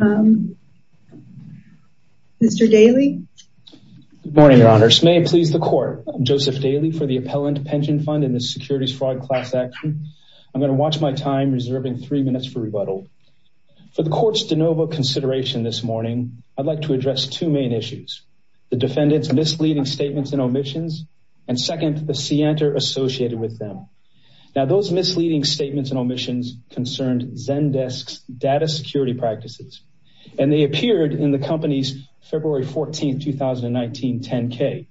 Mr. Daly. Good morning, Your Honors. May it please the Court, I'm Joseph Daly for the Appellant Pension Fund and the Securities Fraud Class Action. I'm going to watch my time reserving three minutes for rebuttal. For the Court's de novo consideration this morning, I'd like to address two main issues. The defendant's misleading statements and omissions and second, the scienter associated with them. Now those misleading statements and omissions concerned Zendesk's data security practices, and they appeared in the company's February 14, 2019 10-K,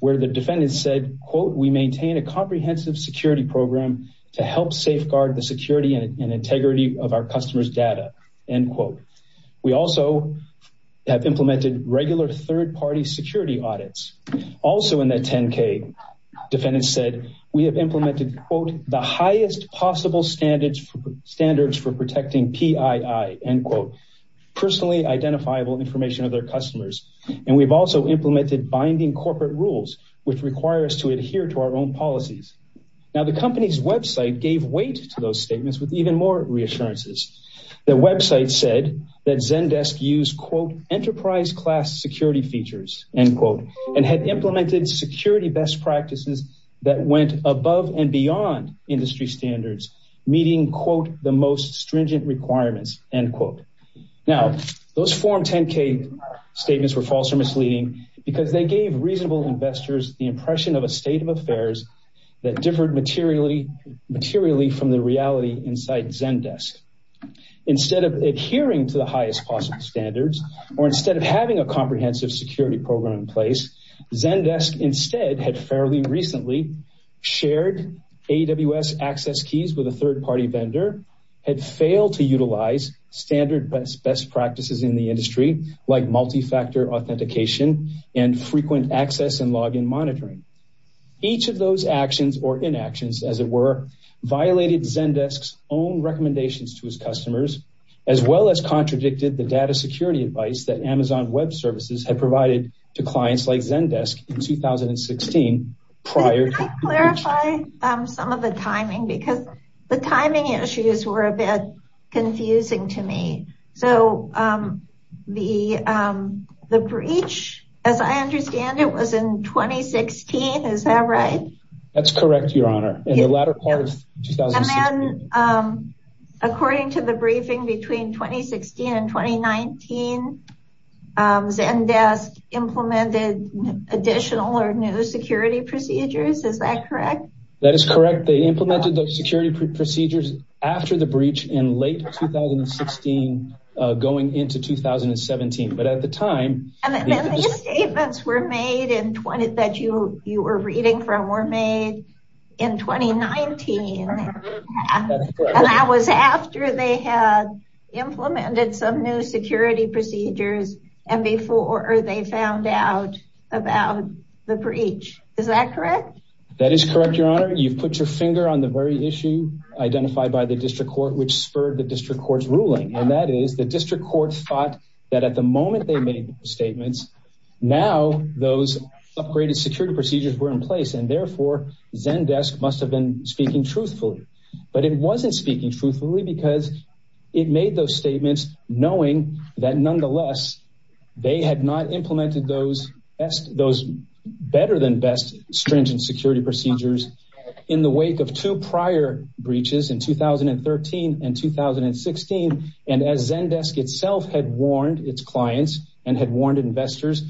where the defendant said, quote, we maintain a comprehensive security program to help safeguard the security and integrity of our customers' data, end quote. We also have implemented regular third-party security audits. Also in that 10-K, defendant said we have implemented, quote, the highest possible standards for protecting PII, end quote, personally identifiable information of their customers. And we've also implemented binding corporate rules, which require us to adhere to our own policies. Now the company's website gave weight to those statements with even more reassurances. The website said that Zendesk used, quote, enterprise class security features, end quote, and had implemented security best practices that went above and beyond industry standards, meeting, quote, the most stringent requirements, end quote. Now those form 10-K statements were false or misleading because they gave reasonable investors the impression of a state of affairs that differed materially from the reality inside Zendesk. Instead of adhering to the highest possible standards, or instead of having a comprehensive security program in place, Zendesk instead had fairly recently shared AWS access keys with a third-party vendor, had failed to utilize standard best practices in the industry, like multi-factor authentication and frequent access and login monitoring. Each of those actions, or inactions as it were, violated Zendesk's own recommendations to his customers, as well as contradicted the data security advice that I clarified some of the timing because the timing issues were a bit confusing to me. So, the breach, as I understand it, was in 2016. Is that right? That's correct, Your Honor. In the latter part of 2016. And then, according to the briefing between 2016 and 2019, Zendesk implemented additional or new security procedures. Is that correct? That is correct. They implemented those security procedures after the breach in late 2016, going into 2017. But at the time... And then these statements were made, that you were reading from, were made in 2019. That's correct. And that was after they had procedures and before they found out about the breach. Is that correct? That is correct, Your Honor. You've put your finger on the very issue identified by the district court, which spurred the district court's ruling. And that is, the district court thought that at the moment they made the statements, now those upgraded security procedures were in place. And therefore, Zendesk must have been speaking truthfully. But it wasn't speaking truthfully because it made those statements knowing that nonetheless, they had not implemented those better than best stringent security procedures in the wake of two prior breaches in 2013 and 2016. And as Zendesk itself had warned its clients and had warned investors,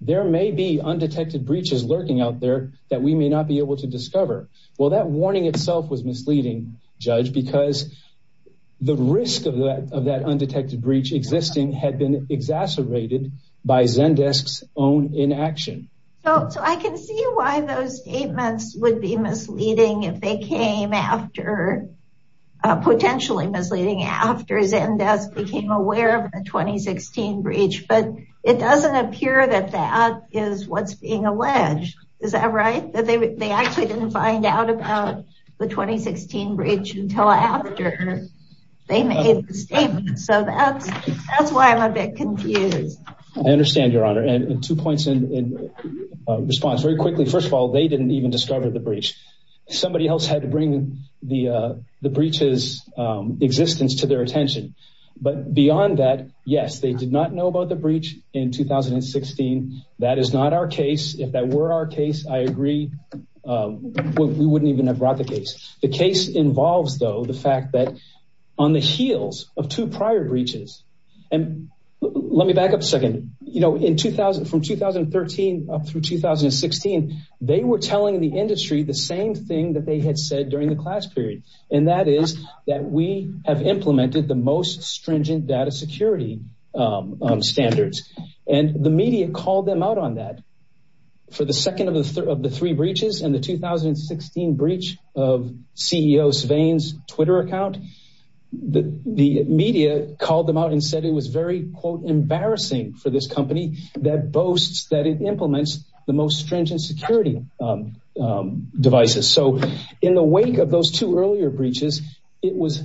there may be undetected breaches lurking out there that we may not be able to discover. Well, that warning itself was the risk of that undetected breach existing had been exacerbated by Zendesk's own inaction. So I can see why those statements would be misleading if they came after, potentially misleading, after Zendesk became aware of the 2016 breach. But it doesn't appear that that is what's being alleged. Is that right? That they actually didn't find out about the 2016 breach until after they made the statement. So that's why I'm a bit confused. I understand, Your Honor. And two points in response. Very quickly, first of all, they didn't even discover the breach. Somebody else had to bring the breach's existence to their attention. But beyond that, yes, they did not know about the breach in 2016. That is not our case. If that were our case, I agree. We wouldn't even have brought the case. The case involves, though, the fact that on the heels of two prior breaches, and let me back up a second, you know, in 2000 from 2013 up through 2016, they were telling the industry the same thing that they had said during the class period. And that is that we have implemented the most stringent data security standards. And the media called them out on that. For the second of the three breaches and the 2016 breach of CEO Svein's Twitter account, the media called them out and said it was very, quote, embarrassing for this company that boasts that it implements the most stringent security devices. So in the wake of those two earlier breaches, it was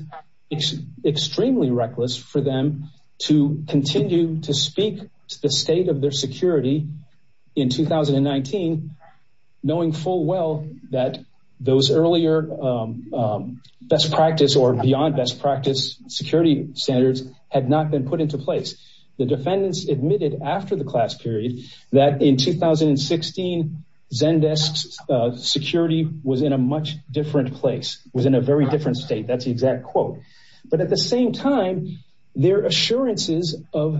extremely reckless for them to continue to speak to the state of their security in 2019, knowing full well that those earlier best practice or beyond best practice security standards had not been put into place. The defendants admitted after the class period that in 2016, Zendesk's security was in a much different place, was in a very different state. That's the exact quote. But at the same time, their assurances of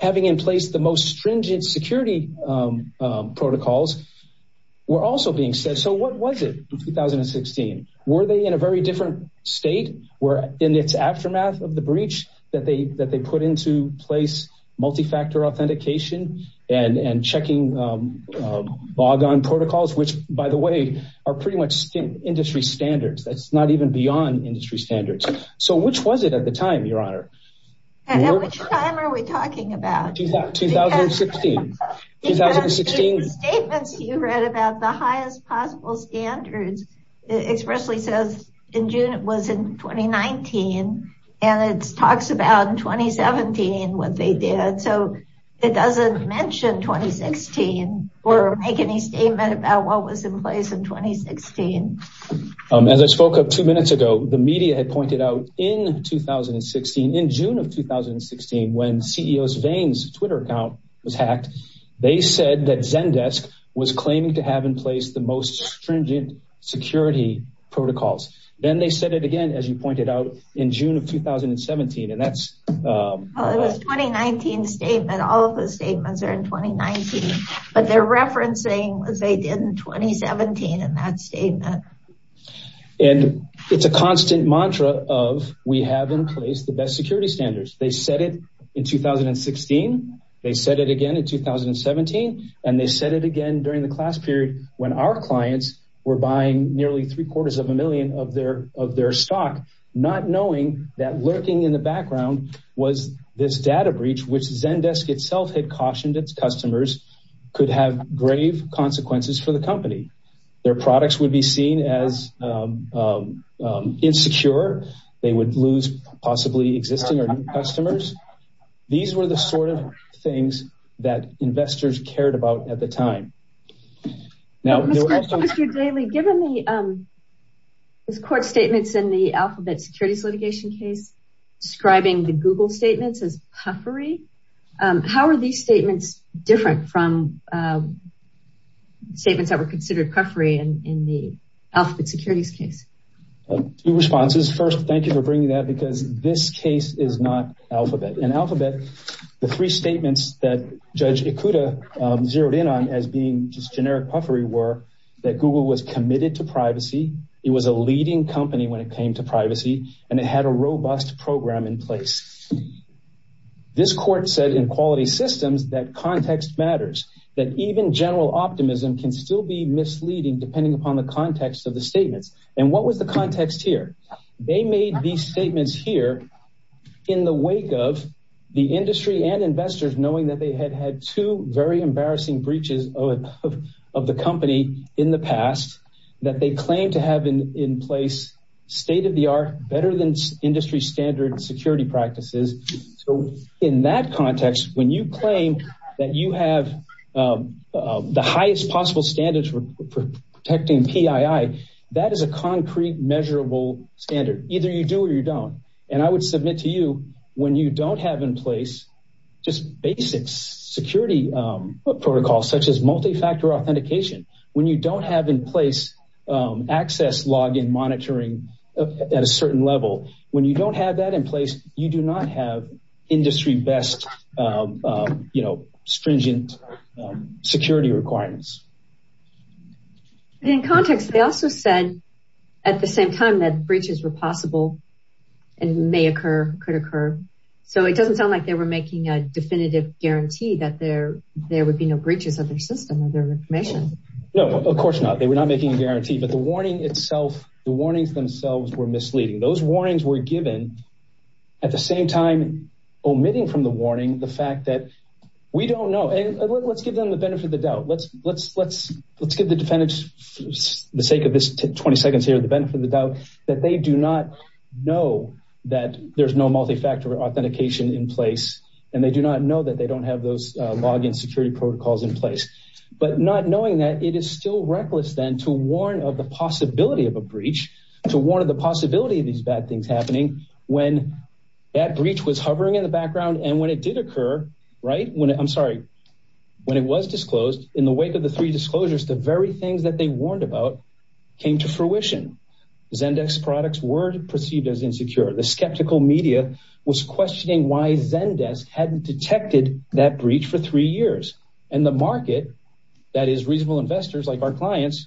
having in place the most stringent security protocols were also being said. So what was it in 2016? Were they in a very different state? Were in its aftermath of the breach that they put into place multi-factor authentication and checking log on protocols, which by the way, are pretty much industry standards. That's not beyond industry standards. So which was it at the time, Your Honor? At which time are we talking about? 2016. In the statements you read about the highest possible standards, it expressly says in June it was in 2019 and it talks about in 2017 what they did. So it doesn't mention 2016 or make any statement about what was in place in 2016. As I spoke of two minutes ago, the media had pointed out in 2016, in June of 2016, when CEO's veins Twitter account was hacked, they said that Zendesk was claiming to have in place the most stringent security protocols. Then they said it again, as you pointed out in June of 2017. And that's a 2019 statement. All of those statements are in 2019, but they're referencing what they did in 2017 in that statement. And it's a constant mantra of we have in place the best security standards. They said it in 2016. They said it again in 2017. And they said it again during the class period when our clients were buying nearly three quarters of a million of their, of their stock, not knowing that lurking in the background was this data breach, which Zendesk itself had cautioned its customers could have grave consequences for the company. Their products would be seen as insecure. They would lose possibly existing or new customers. These were the sort of things that investors cared about at the time. Now, Mr. Daly, given the court statements in the alphabet securities litigation case, describing the Google statements as puffery, how are these statements different from statements that were considered puffery in the alphabet securities case? Two responses. First, thank you for bringing that because this case is not alphabet. In alphabet, the three statements that Judge Ikuda zeroed in on as being just generic puffery were that Google was committed to privacy. It was a leading company when it came to privacy and it had a robust program in place. This court said in quality systems, that context matters, that even general optimism can still be misleading depending upon the context of the statements. And what was the context here? They made these statements here in the wake of the industry and investors knowing that they had had two very embarrassing breaches of the company in the past that they claim to have in place state-of-the-art, better than industry standard security practices. So in that context, when you claim that you have the highest possible standards for protecting PII, that is a concrete measurable standard. Either you do or you don't. And I would submit to you when you don't have in place just basic security protocols such as multi-factor authentication, when you don't have in place access log in monitoring at a certain level, when you don't have that in place, you do not have industry best stringent security requirements. In context, they also said at the same time that breaches were possible and may occur, could occur. So it doesn't sound like they were making a definitive guarantee that there would be no breaches of their system or their information. No, of course not. They were not making a guarantee, but the warning itself, the warnings themselves were misleading. Those warnings were given at the same time, omitting from the warning, the fact that we don't know. Let's give them the benefit of the doubt. Let's give the defendants, for the sake of this 20 seconds here, the benefit of the doubt that they do not know that there's no multi-factor authentication in place. And they do not know that they don't have those log in security protocols in place, but not knowing that it is still reckless then to warn of the possibility of a breach, to warn of the possibility of these bad things happening when that breach was hovering in the background. And when it did occur, right, when I'm sorry, when it was disclosed in the wake of three disclosures, the very things that they warned about came to fruition. Zendesk products were perceived as insecure. The skeptical media was questioning why Zendesk hadn't detected that breach for three years. And the market, that is reasonable investors like our clients,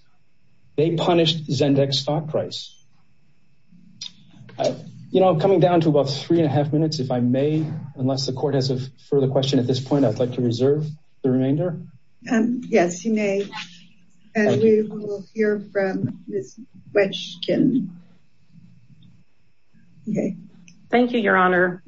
they punished Zendesk stock price. You know, coming down to about three and a half minutes, if I may, unless the court has a further question at this point, I'd like to reserve the remainder. Yes, you may. We will hear from Ms. Wetchkin. Thank you, Your Honor.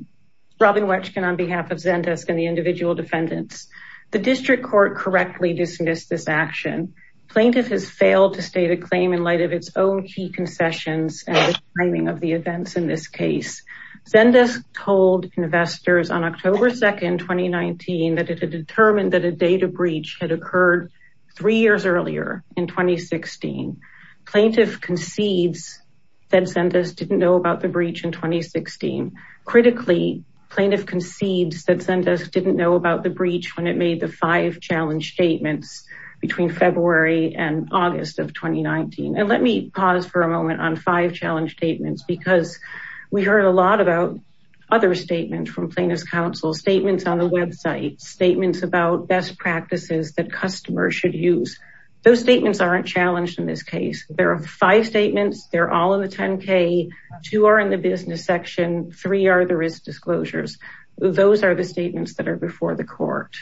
Robin Wetchkin on behalf of Zendesk and the individual defendants. The district court correctly dismissed this action. Plaintiff has failed to state a claim in light of its own key concessions and the timing of the events in this case. Zendesk told investors on October 2nd, 2019, that it had determined that a data breach had occurred three years earlier in 2016. Plaintiff concedes that Zendesk didn't know about the breach in 2016. Critically, plaintiff concedes that Zendesk didn't know about the breach when it made the five challenge statements between February and August of 2019. And let me pause for a moment on five challenge statements because we heard a lot about other statements from plaintiff's counsel, statements on the website, statements about best practices that customers should use. Those statements aren't challenged in this case. There are five statements. They're all in the 10k. Two are in the business section. Three are the risk disclosures. Those are the statements that are before the court.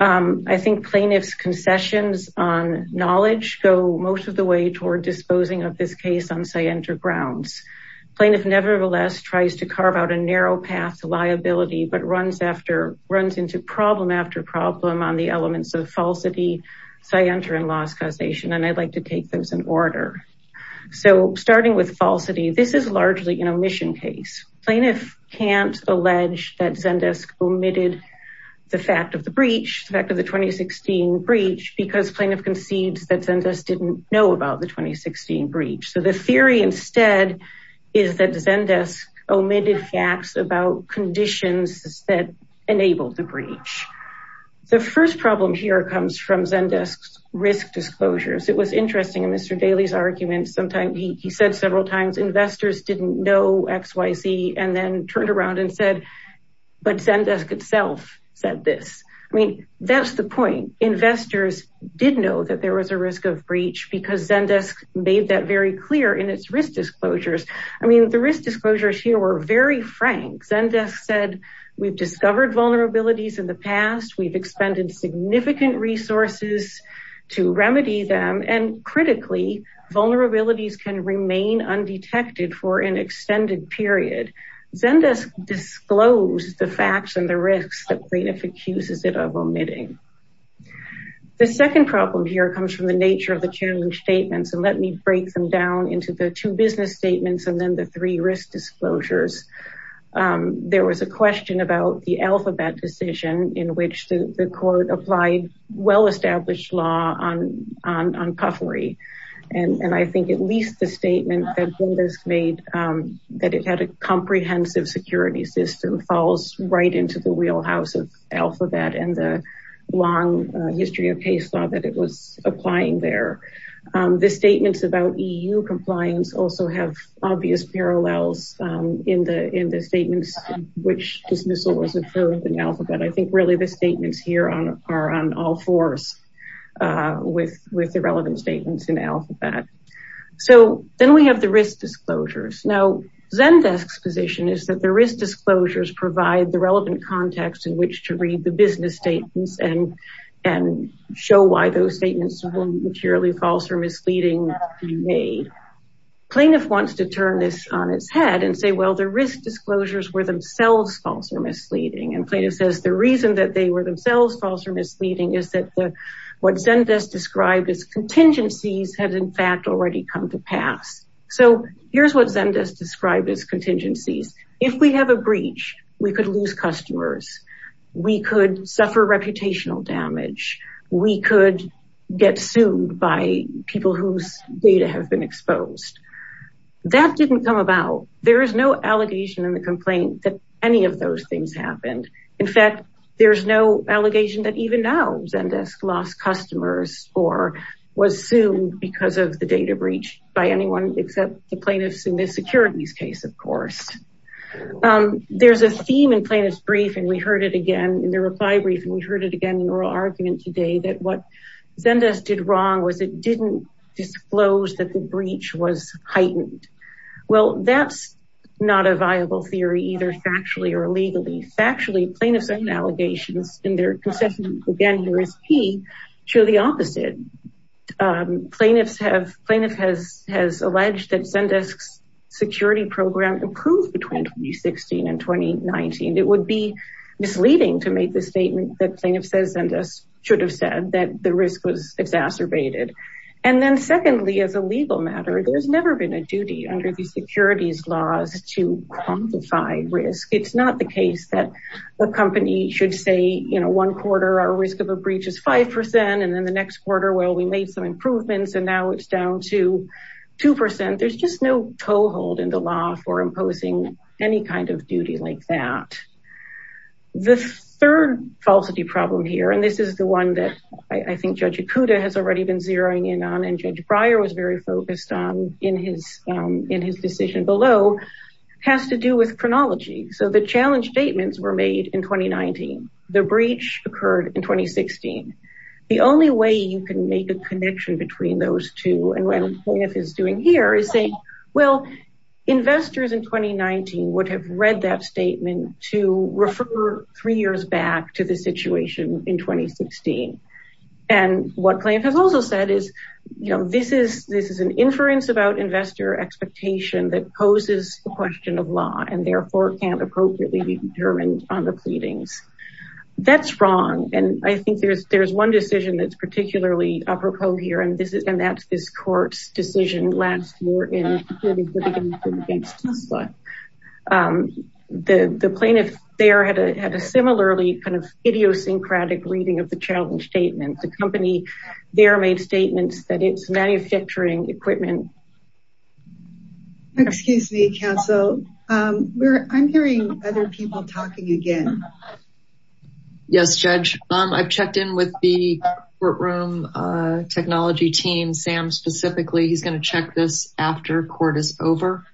I think plaintiff's concessions on knowledge go most of the way toward disposing of this case on scienter grounds. Plaintiff nevertheless tries to carve out a narrow path to liability, but runs into problem after problem on the elements of falsity, scienter, and loss causation. And I'd like to take those in order. So starting with falsity, this is largely an omission case. Plaintiff can't allege that Zendesk omitted the fact of the breach, because plaintiff concedes that Zendesk didn't know about the 2016 breach. So the theory instead is that Zendesk omitted facts about conditions that enabled the breach. The first problem here comes from Zendesk's risk disclosures. It was interesting in Mr. Daley's argument. Sometimes he said several times investors didn't know XYZ and then turned around and said, but Zendesk itself said this. I mean, that's the point. Investors did know that there was a risk of breach because Zendesk made that very clear in its risk disclosures. I mean, the risk disclosures here were very frank. Zendesk said, we've discovered vulnerabilities in the past. We've expended significant resources to remedy them. And critically, vulnerabilities can remain undetected for an extended period. Zendesk disclosed the facts and the risks that plaintiff accuses it of omitting. The second problem here comes from the nature of the challenge statements. And let me break them down into the two business statements and then the three risk disclosures. There was a question about the alphabet decision in which the court applied well-established law on puffery. And I think at least the statement that Zendesk made that it had a comprehensive security system falls right into the wheelhouse of alphabet and the long history of case law that it was applying there. The statements about EU compliance also have obvious parallels in the statements which dismissal was approved in alphabet. I think really the statements here are on all fours with the relevant statements in alphabet. So then we have the risk disclosures. Now, Zendesk's position is that the risk disclosures provide the relevant context in which to read the business statements and show why those statements were materially false or misleading. Plaintiff wants to turn this on its head and say, well, the risk disclosures were themselves false or misleading. And plaintiff says the reason that they were themselves false or misleading is that what Zendesk described as contingencies had in fact already come to pass. So here's what Zendesk described as contingencies. If we have a breach, we could lose customers. We could suffer reputational damage. We could get sued by people whose data have been exposed. That didn't come about. There is no allegation in the complaint that any of those things happened. In fact, there's no allegation that even now Zendesk lost customers or was sued because of the data breach by anyone except the plaintiffs in this securities case, of course. There's a theme in plaintiff's brief. And we heard it again in the reply brief. And we heard it again in oral argument today that what Zendesk did wrong was it didn't disclose that the breach was heightened. Well, that's not a viable theory either factually or illegally. Factually, plaintiff's own allegations in their concessions, again, here is key, show the opposite. Plaintiff has alleged that Zendesk's security program improved between 2016 and 2019. It would be misleading to make the statement that plaintiff says Zendesk should have said that the risk was exacerbated. And then secondly, as a legal matter, there's never been a duty under the securities laws to quantify risk. It's not the case that a company should say, you know, one quarter, our risk of a breach is 5%. And then the next quarter, well, we made some improvements and now it's down to 2%. There's just no toehold in the law for imposing any kind of duty like that. The third falsity problem here, and this is the one that I think Judge Ikuda has already been zeroing in on and Judge Breyer was very focused on in his decision below, has to do with chronology. So the challenge statements were made in 2019. The breach occurred in 2016. The only way you can make a connection between those two and what plaintiff is doing here is saying, well, investors in 2019 would have read that statement to refer three years back to the situation in 2016. And what plaintiff has also said is, you know, this is an inference about investor expectation that poses a question of law and therefore can't appropriately be determined on the pleadings. That's wrong. And I think there's one decision that's particularly apropos here, and that's this court's decision last year in 2018. The plaintiff there had a similarly kind of idiosyncratic reading of the challenge statement. The company there made statements that it's manufacturing equipment. Excuse me, counsel. I'm hearing other people talking again. Yes, Judge. I've checked in with the courtroom technology team, Sam specifically. He's going to check this after court is over.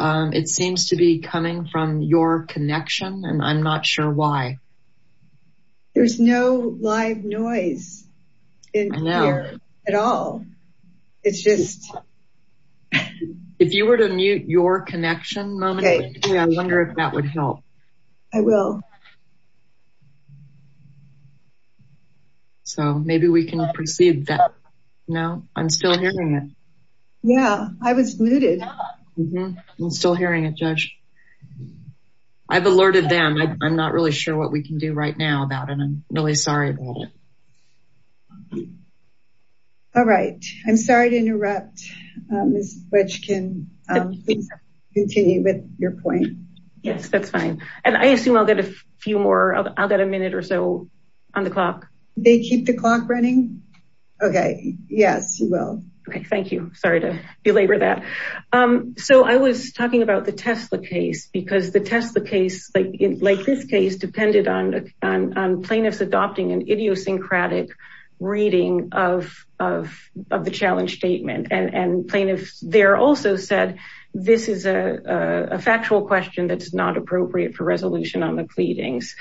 It seems to be coming from your connection, and I'm not sure why. There's no live noise at all. It's just... If you were to mute your connection momentarily, I wonder if that would help. I will. So maybe we can proceed that. No, I'm still hearing it. Yeah, I was muted. I'm still hearing it, Judge. I've alerted them. I'm not really sure what we can do right now about it. I'm really sorry about it. All right. I'm sorry to interrupt. Ms. Boettchkin, please continue with your point. Yes, that's fine. And I assume I'll get a few more. I'll get a minute or so on the clock. They keep the clock running? Okay. Yes, you will. Okay. Thank you. Sorry to belabor that. So I was talking about the Tesla case, because the Tesla case, like this case, depended on plaintiffs adopting an idiosyncratic reading of the challenge statement. And plaintiffs there also said, this is a factual question that's not appropriate for resolution on the pleadings.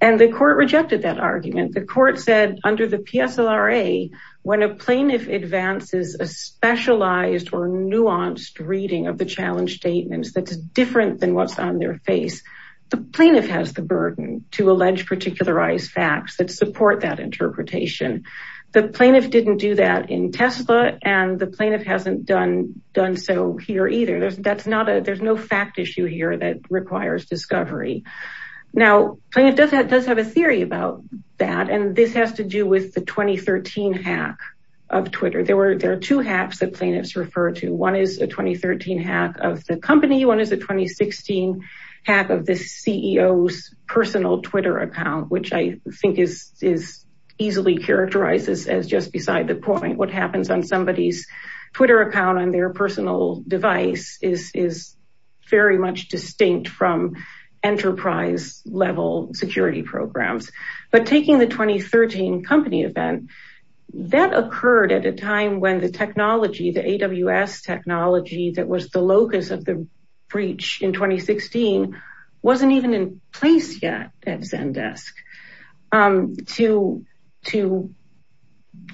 And the court rejected that argument. The court said under the PSLRA, when a plaintiff advances a specialized or nuanced reading of the challenge statements that's different than what's on their face, the plaintiff has the burden to allege particularized facts that support that interpretation. The plaintiff didn't do that in Tesla, and the plaintiff hasn't done so here Now, plaintiff does have a theory about that. And this has to do with the 2013 hack of Twitter. There are two hacks that plaintiffs refer to. One is a 2013 hack of the company. One is a 2016 hack of the CEO's personal Twitter account, which I think is easily characterized as just beside the point. What happens on somebody's Twitter account on their personal device is very much distinct from enterprise level security programs. But taking the 2013 company event, that occurred at a time when the technology, the AWS technology that was the locus of the breach in 2016, wasn't even in place yet at Zendesk. To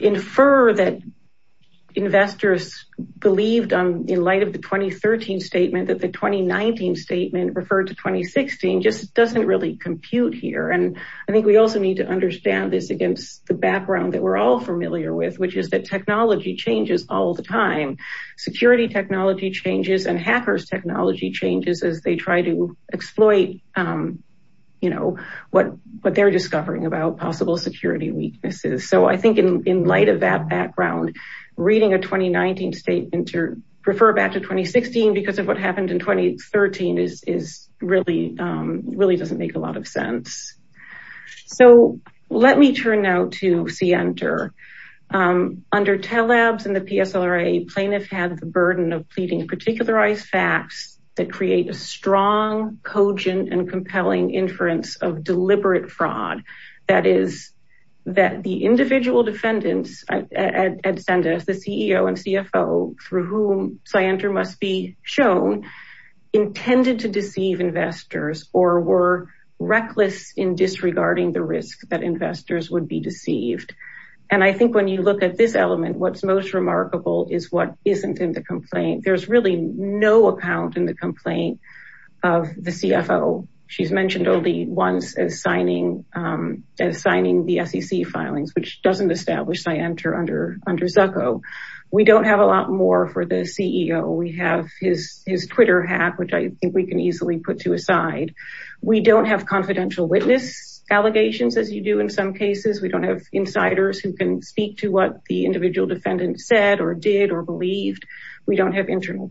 infer that investors believed in the 2013 statement that the 2019 statement referred to 2016 just doesn't really compute here. And I think we also need to understand this against the background that we're all familiar with, which is that technology changes all the time. Security technology changes and hackers technology changes as they try to exploit what they're discovering about possible security weaknesses. So I think in light of that background, reading a 2019 statement to refer back to 2016, because of what happened in 2013, really doesn't make a lot of sense. So let me turn now to Center. Under Telabs and the PSLRA, plaintiff had the burden of pleading particularized facts that create a strong, cogent, and compelling inference of that the individual defendants at Zendesk, the CEO and CFO, through whom Scienter must be shown, intended to deceive investors or were reckless in disregarding the risk that investors would be deceived. And I think when you look at this element, what's most remarkable is what isn't in the complaint. There's really no account in the complaint of the CFO. She's mentioned only once as signing the SEC filings, which doesn't establish Scienter under Zucco. We don't have a lot more for the CEO. We have his Twitter hat, which I think we can easily put to a side. We don't have confidential witness allegations as you do in some cases. We don't have insiders who can speak to what the individual defendant said or did or believed. We don't have internal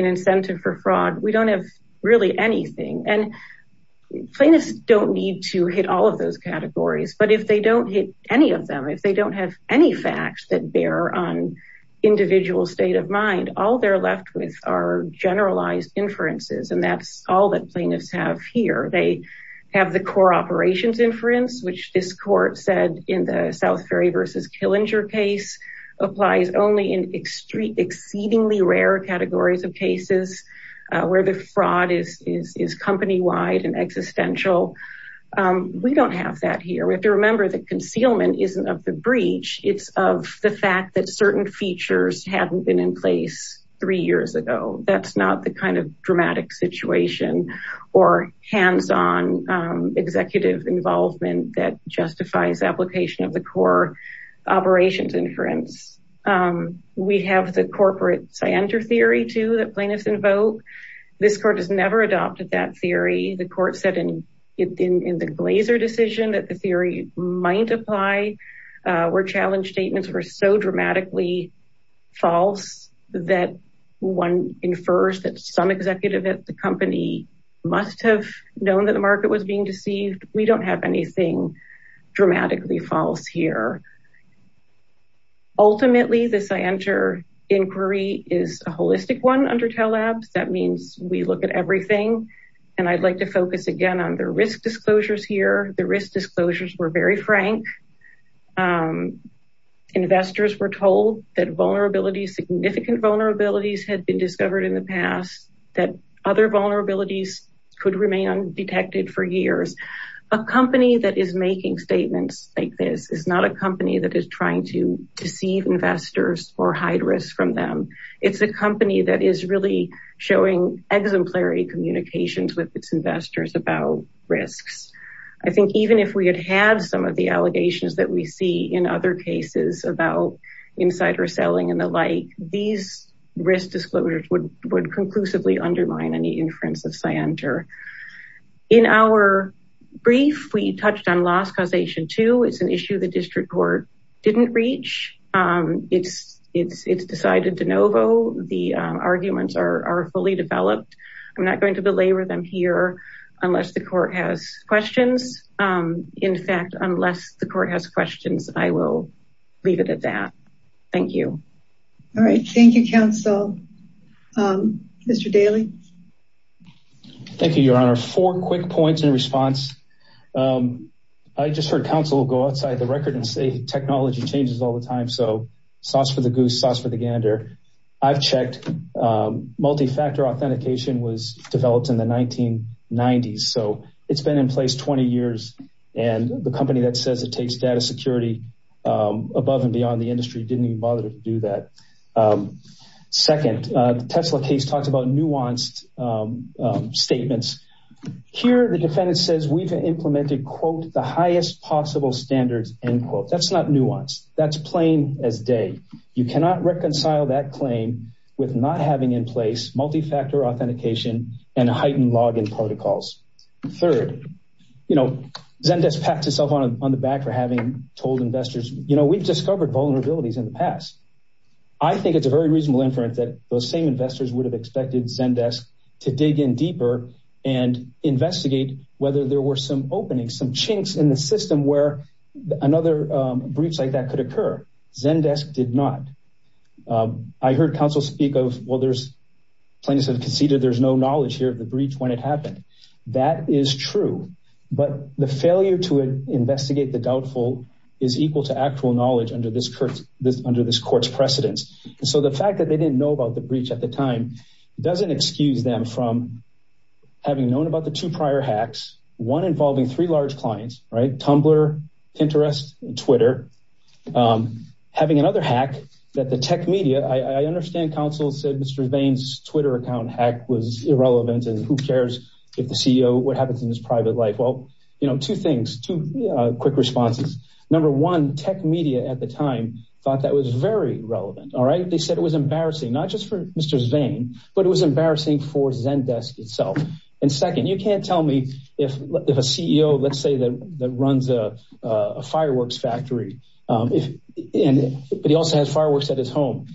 incentive for fraud. We don't have really anything. And plaintiffs don't need to hit all of those categories. But if they don't hit any of them, if they don't have any facts that bear on individual state of mind, all they're left with are generalized inferences. And that's all that plaintiffs have here. They have the core operations inference, which this court said in the South Ferry versus Killinger case applies only in exceedingly rare categories of cases where the fraud is company-wide and existential. We don't have that here. We have to remember that concealment isn't of the breach. It's of the fact that certain features hadn't been in place three years ago. That's not the kind of dramatic situation or hands-on executive involvement that justifies application of the core operations inference. We have the corporate scienter theory too that plaintiffs invoke. This court has never adopted that theory. The court said in the Glazer decision that the theory might apply where challenge statements were so dramatically false that one infers that some executive at the company must have known that the market was being deceived. We don't have anything dramatically false here. Ultimately, the scienter inquiry is a holistic one under Tell Labs. That means we look at everything. And I'd like to focus again on the risk disclosures here. The risk disclosures were very frank. Investors were told that vulnerabilities, significant vulnerabilities had been discovered in the past that other that is making statements like this is not a company that is trying to deceive investors or hide risks from them. It's a company that is really showing exemplary communications with its investors about risks. I think even if we had had some of the allegations that we see in other cases about insider selling and the like, these risk disclosures would conclusively undermine any inference of scienter. In our brief, we touched on loss causation too. It's an issue the district court didn't reach. It's decided de novo. The arguments are fully developed. I'm not going to belabor them here unless the court has questions. In fact, unless the court has questions, I will leave it at that. Thank you. All right. Thank you, counsel. Mr. Daly. Thank you, your honor. Four quick points in response. I just heard counsel go outside the record and say technology changes all the time. So sauce for the goose, sauce for the gander. I've checked. Multi-factor authentication was developed in the 1990s. So it's been in place 20 years. And the company that says it takes data security above and beyond the industry didn't even bother to do that. Second, the Tesla case talks about nuanced statements. Here, the defendant says we've implemented, quote, the highest possible standards, end quote. That's not nuanced. That's plain as day. You cannot reconcile that claim with not having in place multi-factor authentication and heightened login protocols. Third, you know, Zendesk pats itself on the back for having told investors, you know, we've discovered vulnerabilities in the past. I think it's a very reasonable inference that those same investors would have expected Zendesk to dig in deeper and investigate whether there were some openings, some chinks in the system where another breach like that could occur. Zendesk did not. I heard counsel speak of, well, there's plaintiffs have conceded there's no knowledge here of the breach when it happened. That is true. But the failure to investigate the doubtful is equal to actual knowledge under this court's precedence. And so the fact that they didn't know about the breach at the time doesn't excuse them from having known about the two prior hacks, one involving three large clients, right? Tumblr, Pinterest, and Twitter. Having another hack that the tech media, I understand counsel said Mr. account hack was irrelevant and who cares if the CEO, what happens in his private life? Well, you know, two things, two quick responses. Number one, tech media at the time thought that was very relevant. All right. They said it was embarrassing, not just for Mr. Zvane, but it was embarrassing for Zendesk itself. And second, you can't tell me if a CEO, let's say that runs a fireworks factory, if, and, but he also has fireworks at his home.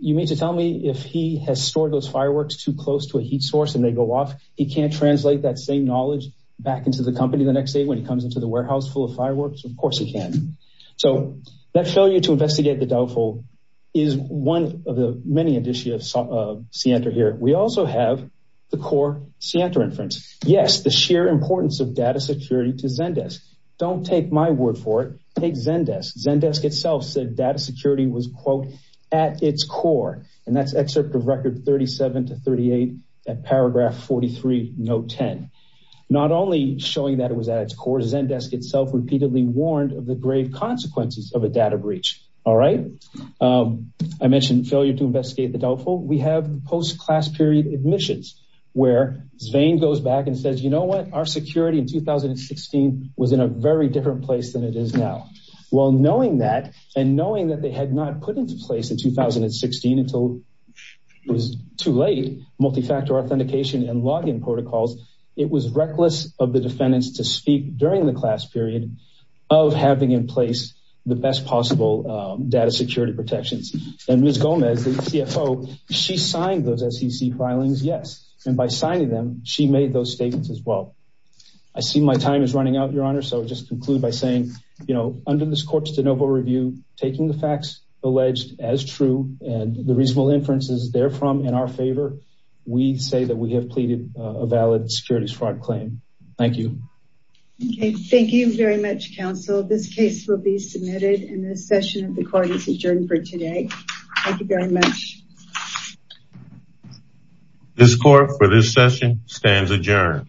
You mean to tell me if he has stored those fireworks too close to a heat source and they go off, he can't translate that same knowledge back into the company the next day when he comes into the warehouse full of fireworks? Of course he can. So that failure to investigate the doubtful is one of the many additions of Sientra here. We also have the core Sientra inference. Yes. The sheer importance of data security to Zendesk. Don't take my word for it. Take Zendesk. Zendesk itself said data security was quote, at its core. And that's excerpt of record 37 to 38 at paragraph 43, note 10. Not only showing that it was at its core, Zendesk itself repeatedly warned of the grave consequences of a data breach. All right. I mentioned failure to investigate the doubtful. We have post-class period admissions where Zvane goes back and says, you know what? Our security in 2016 was in a very different place than it is now. Well, knowing that and knowing that they had not put into place in 2016 until it was too late, multi-factor authentication and login protocols, it was reckless of the defendants to speak during the class period of having in place the best possible data security protections. And Ms. Gomez, the CFO, she signed those SEC filings. Yes. And by signing them, she made those statements as well. I see my time is running out, your honor. So just conclude by saying, you know, under this court's de novo review, taking the facts alleged as true and the reasonable inferences therefrom in our favor, we say that we have pleaded a valid securities fraud claim. Thank you. Okay. Thank you very much, counsel. This case will be submitted in a session of the court. It's adjourned for today. Thank you very much. This court for this session stands adjourned.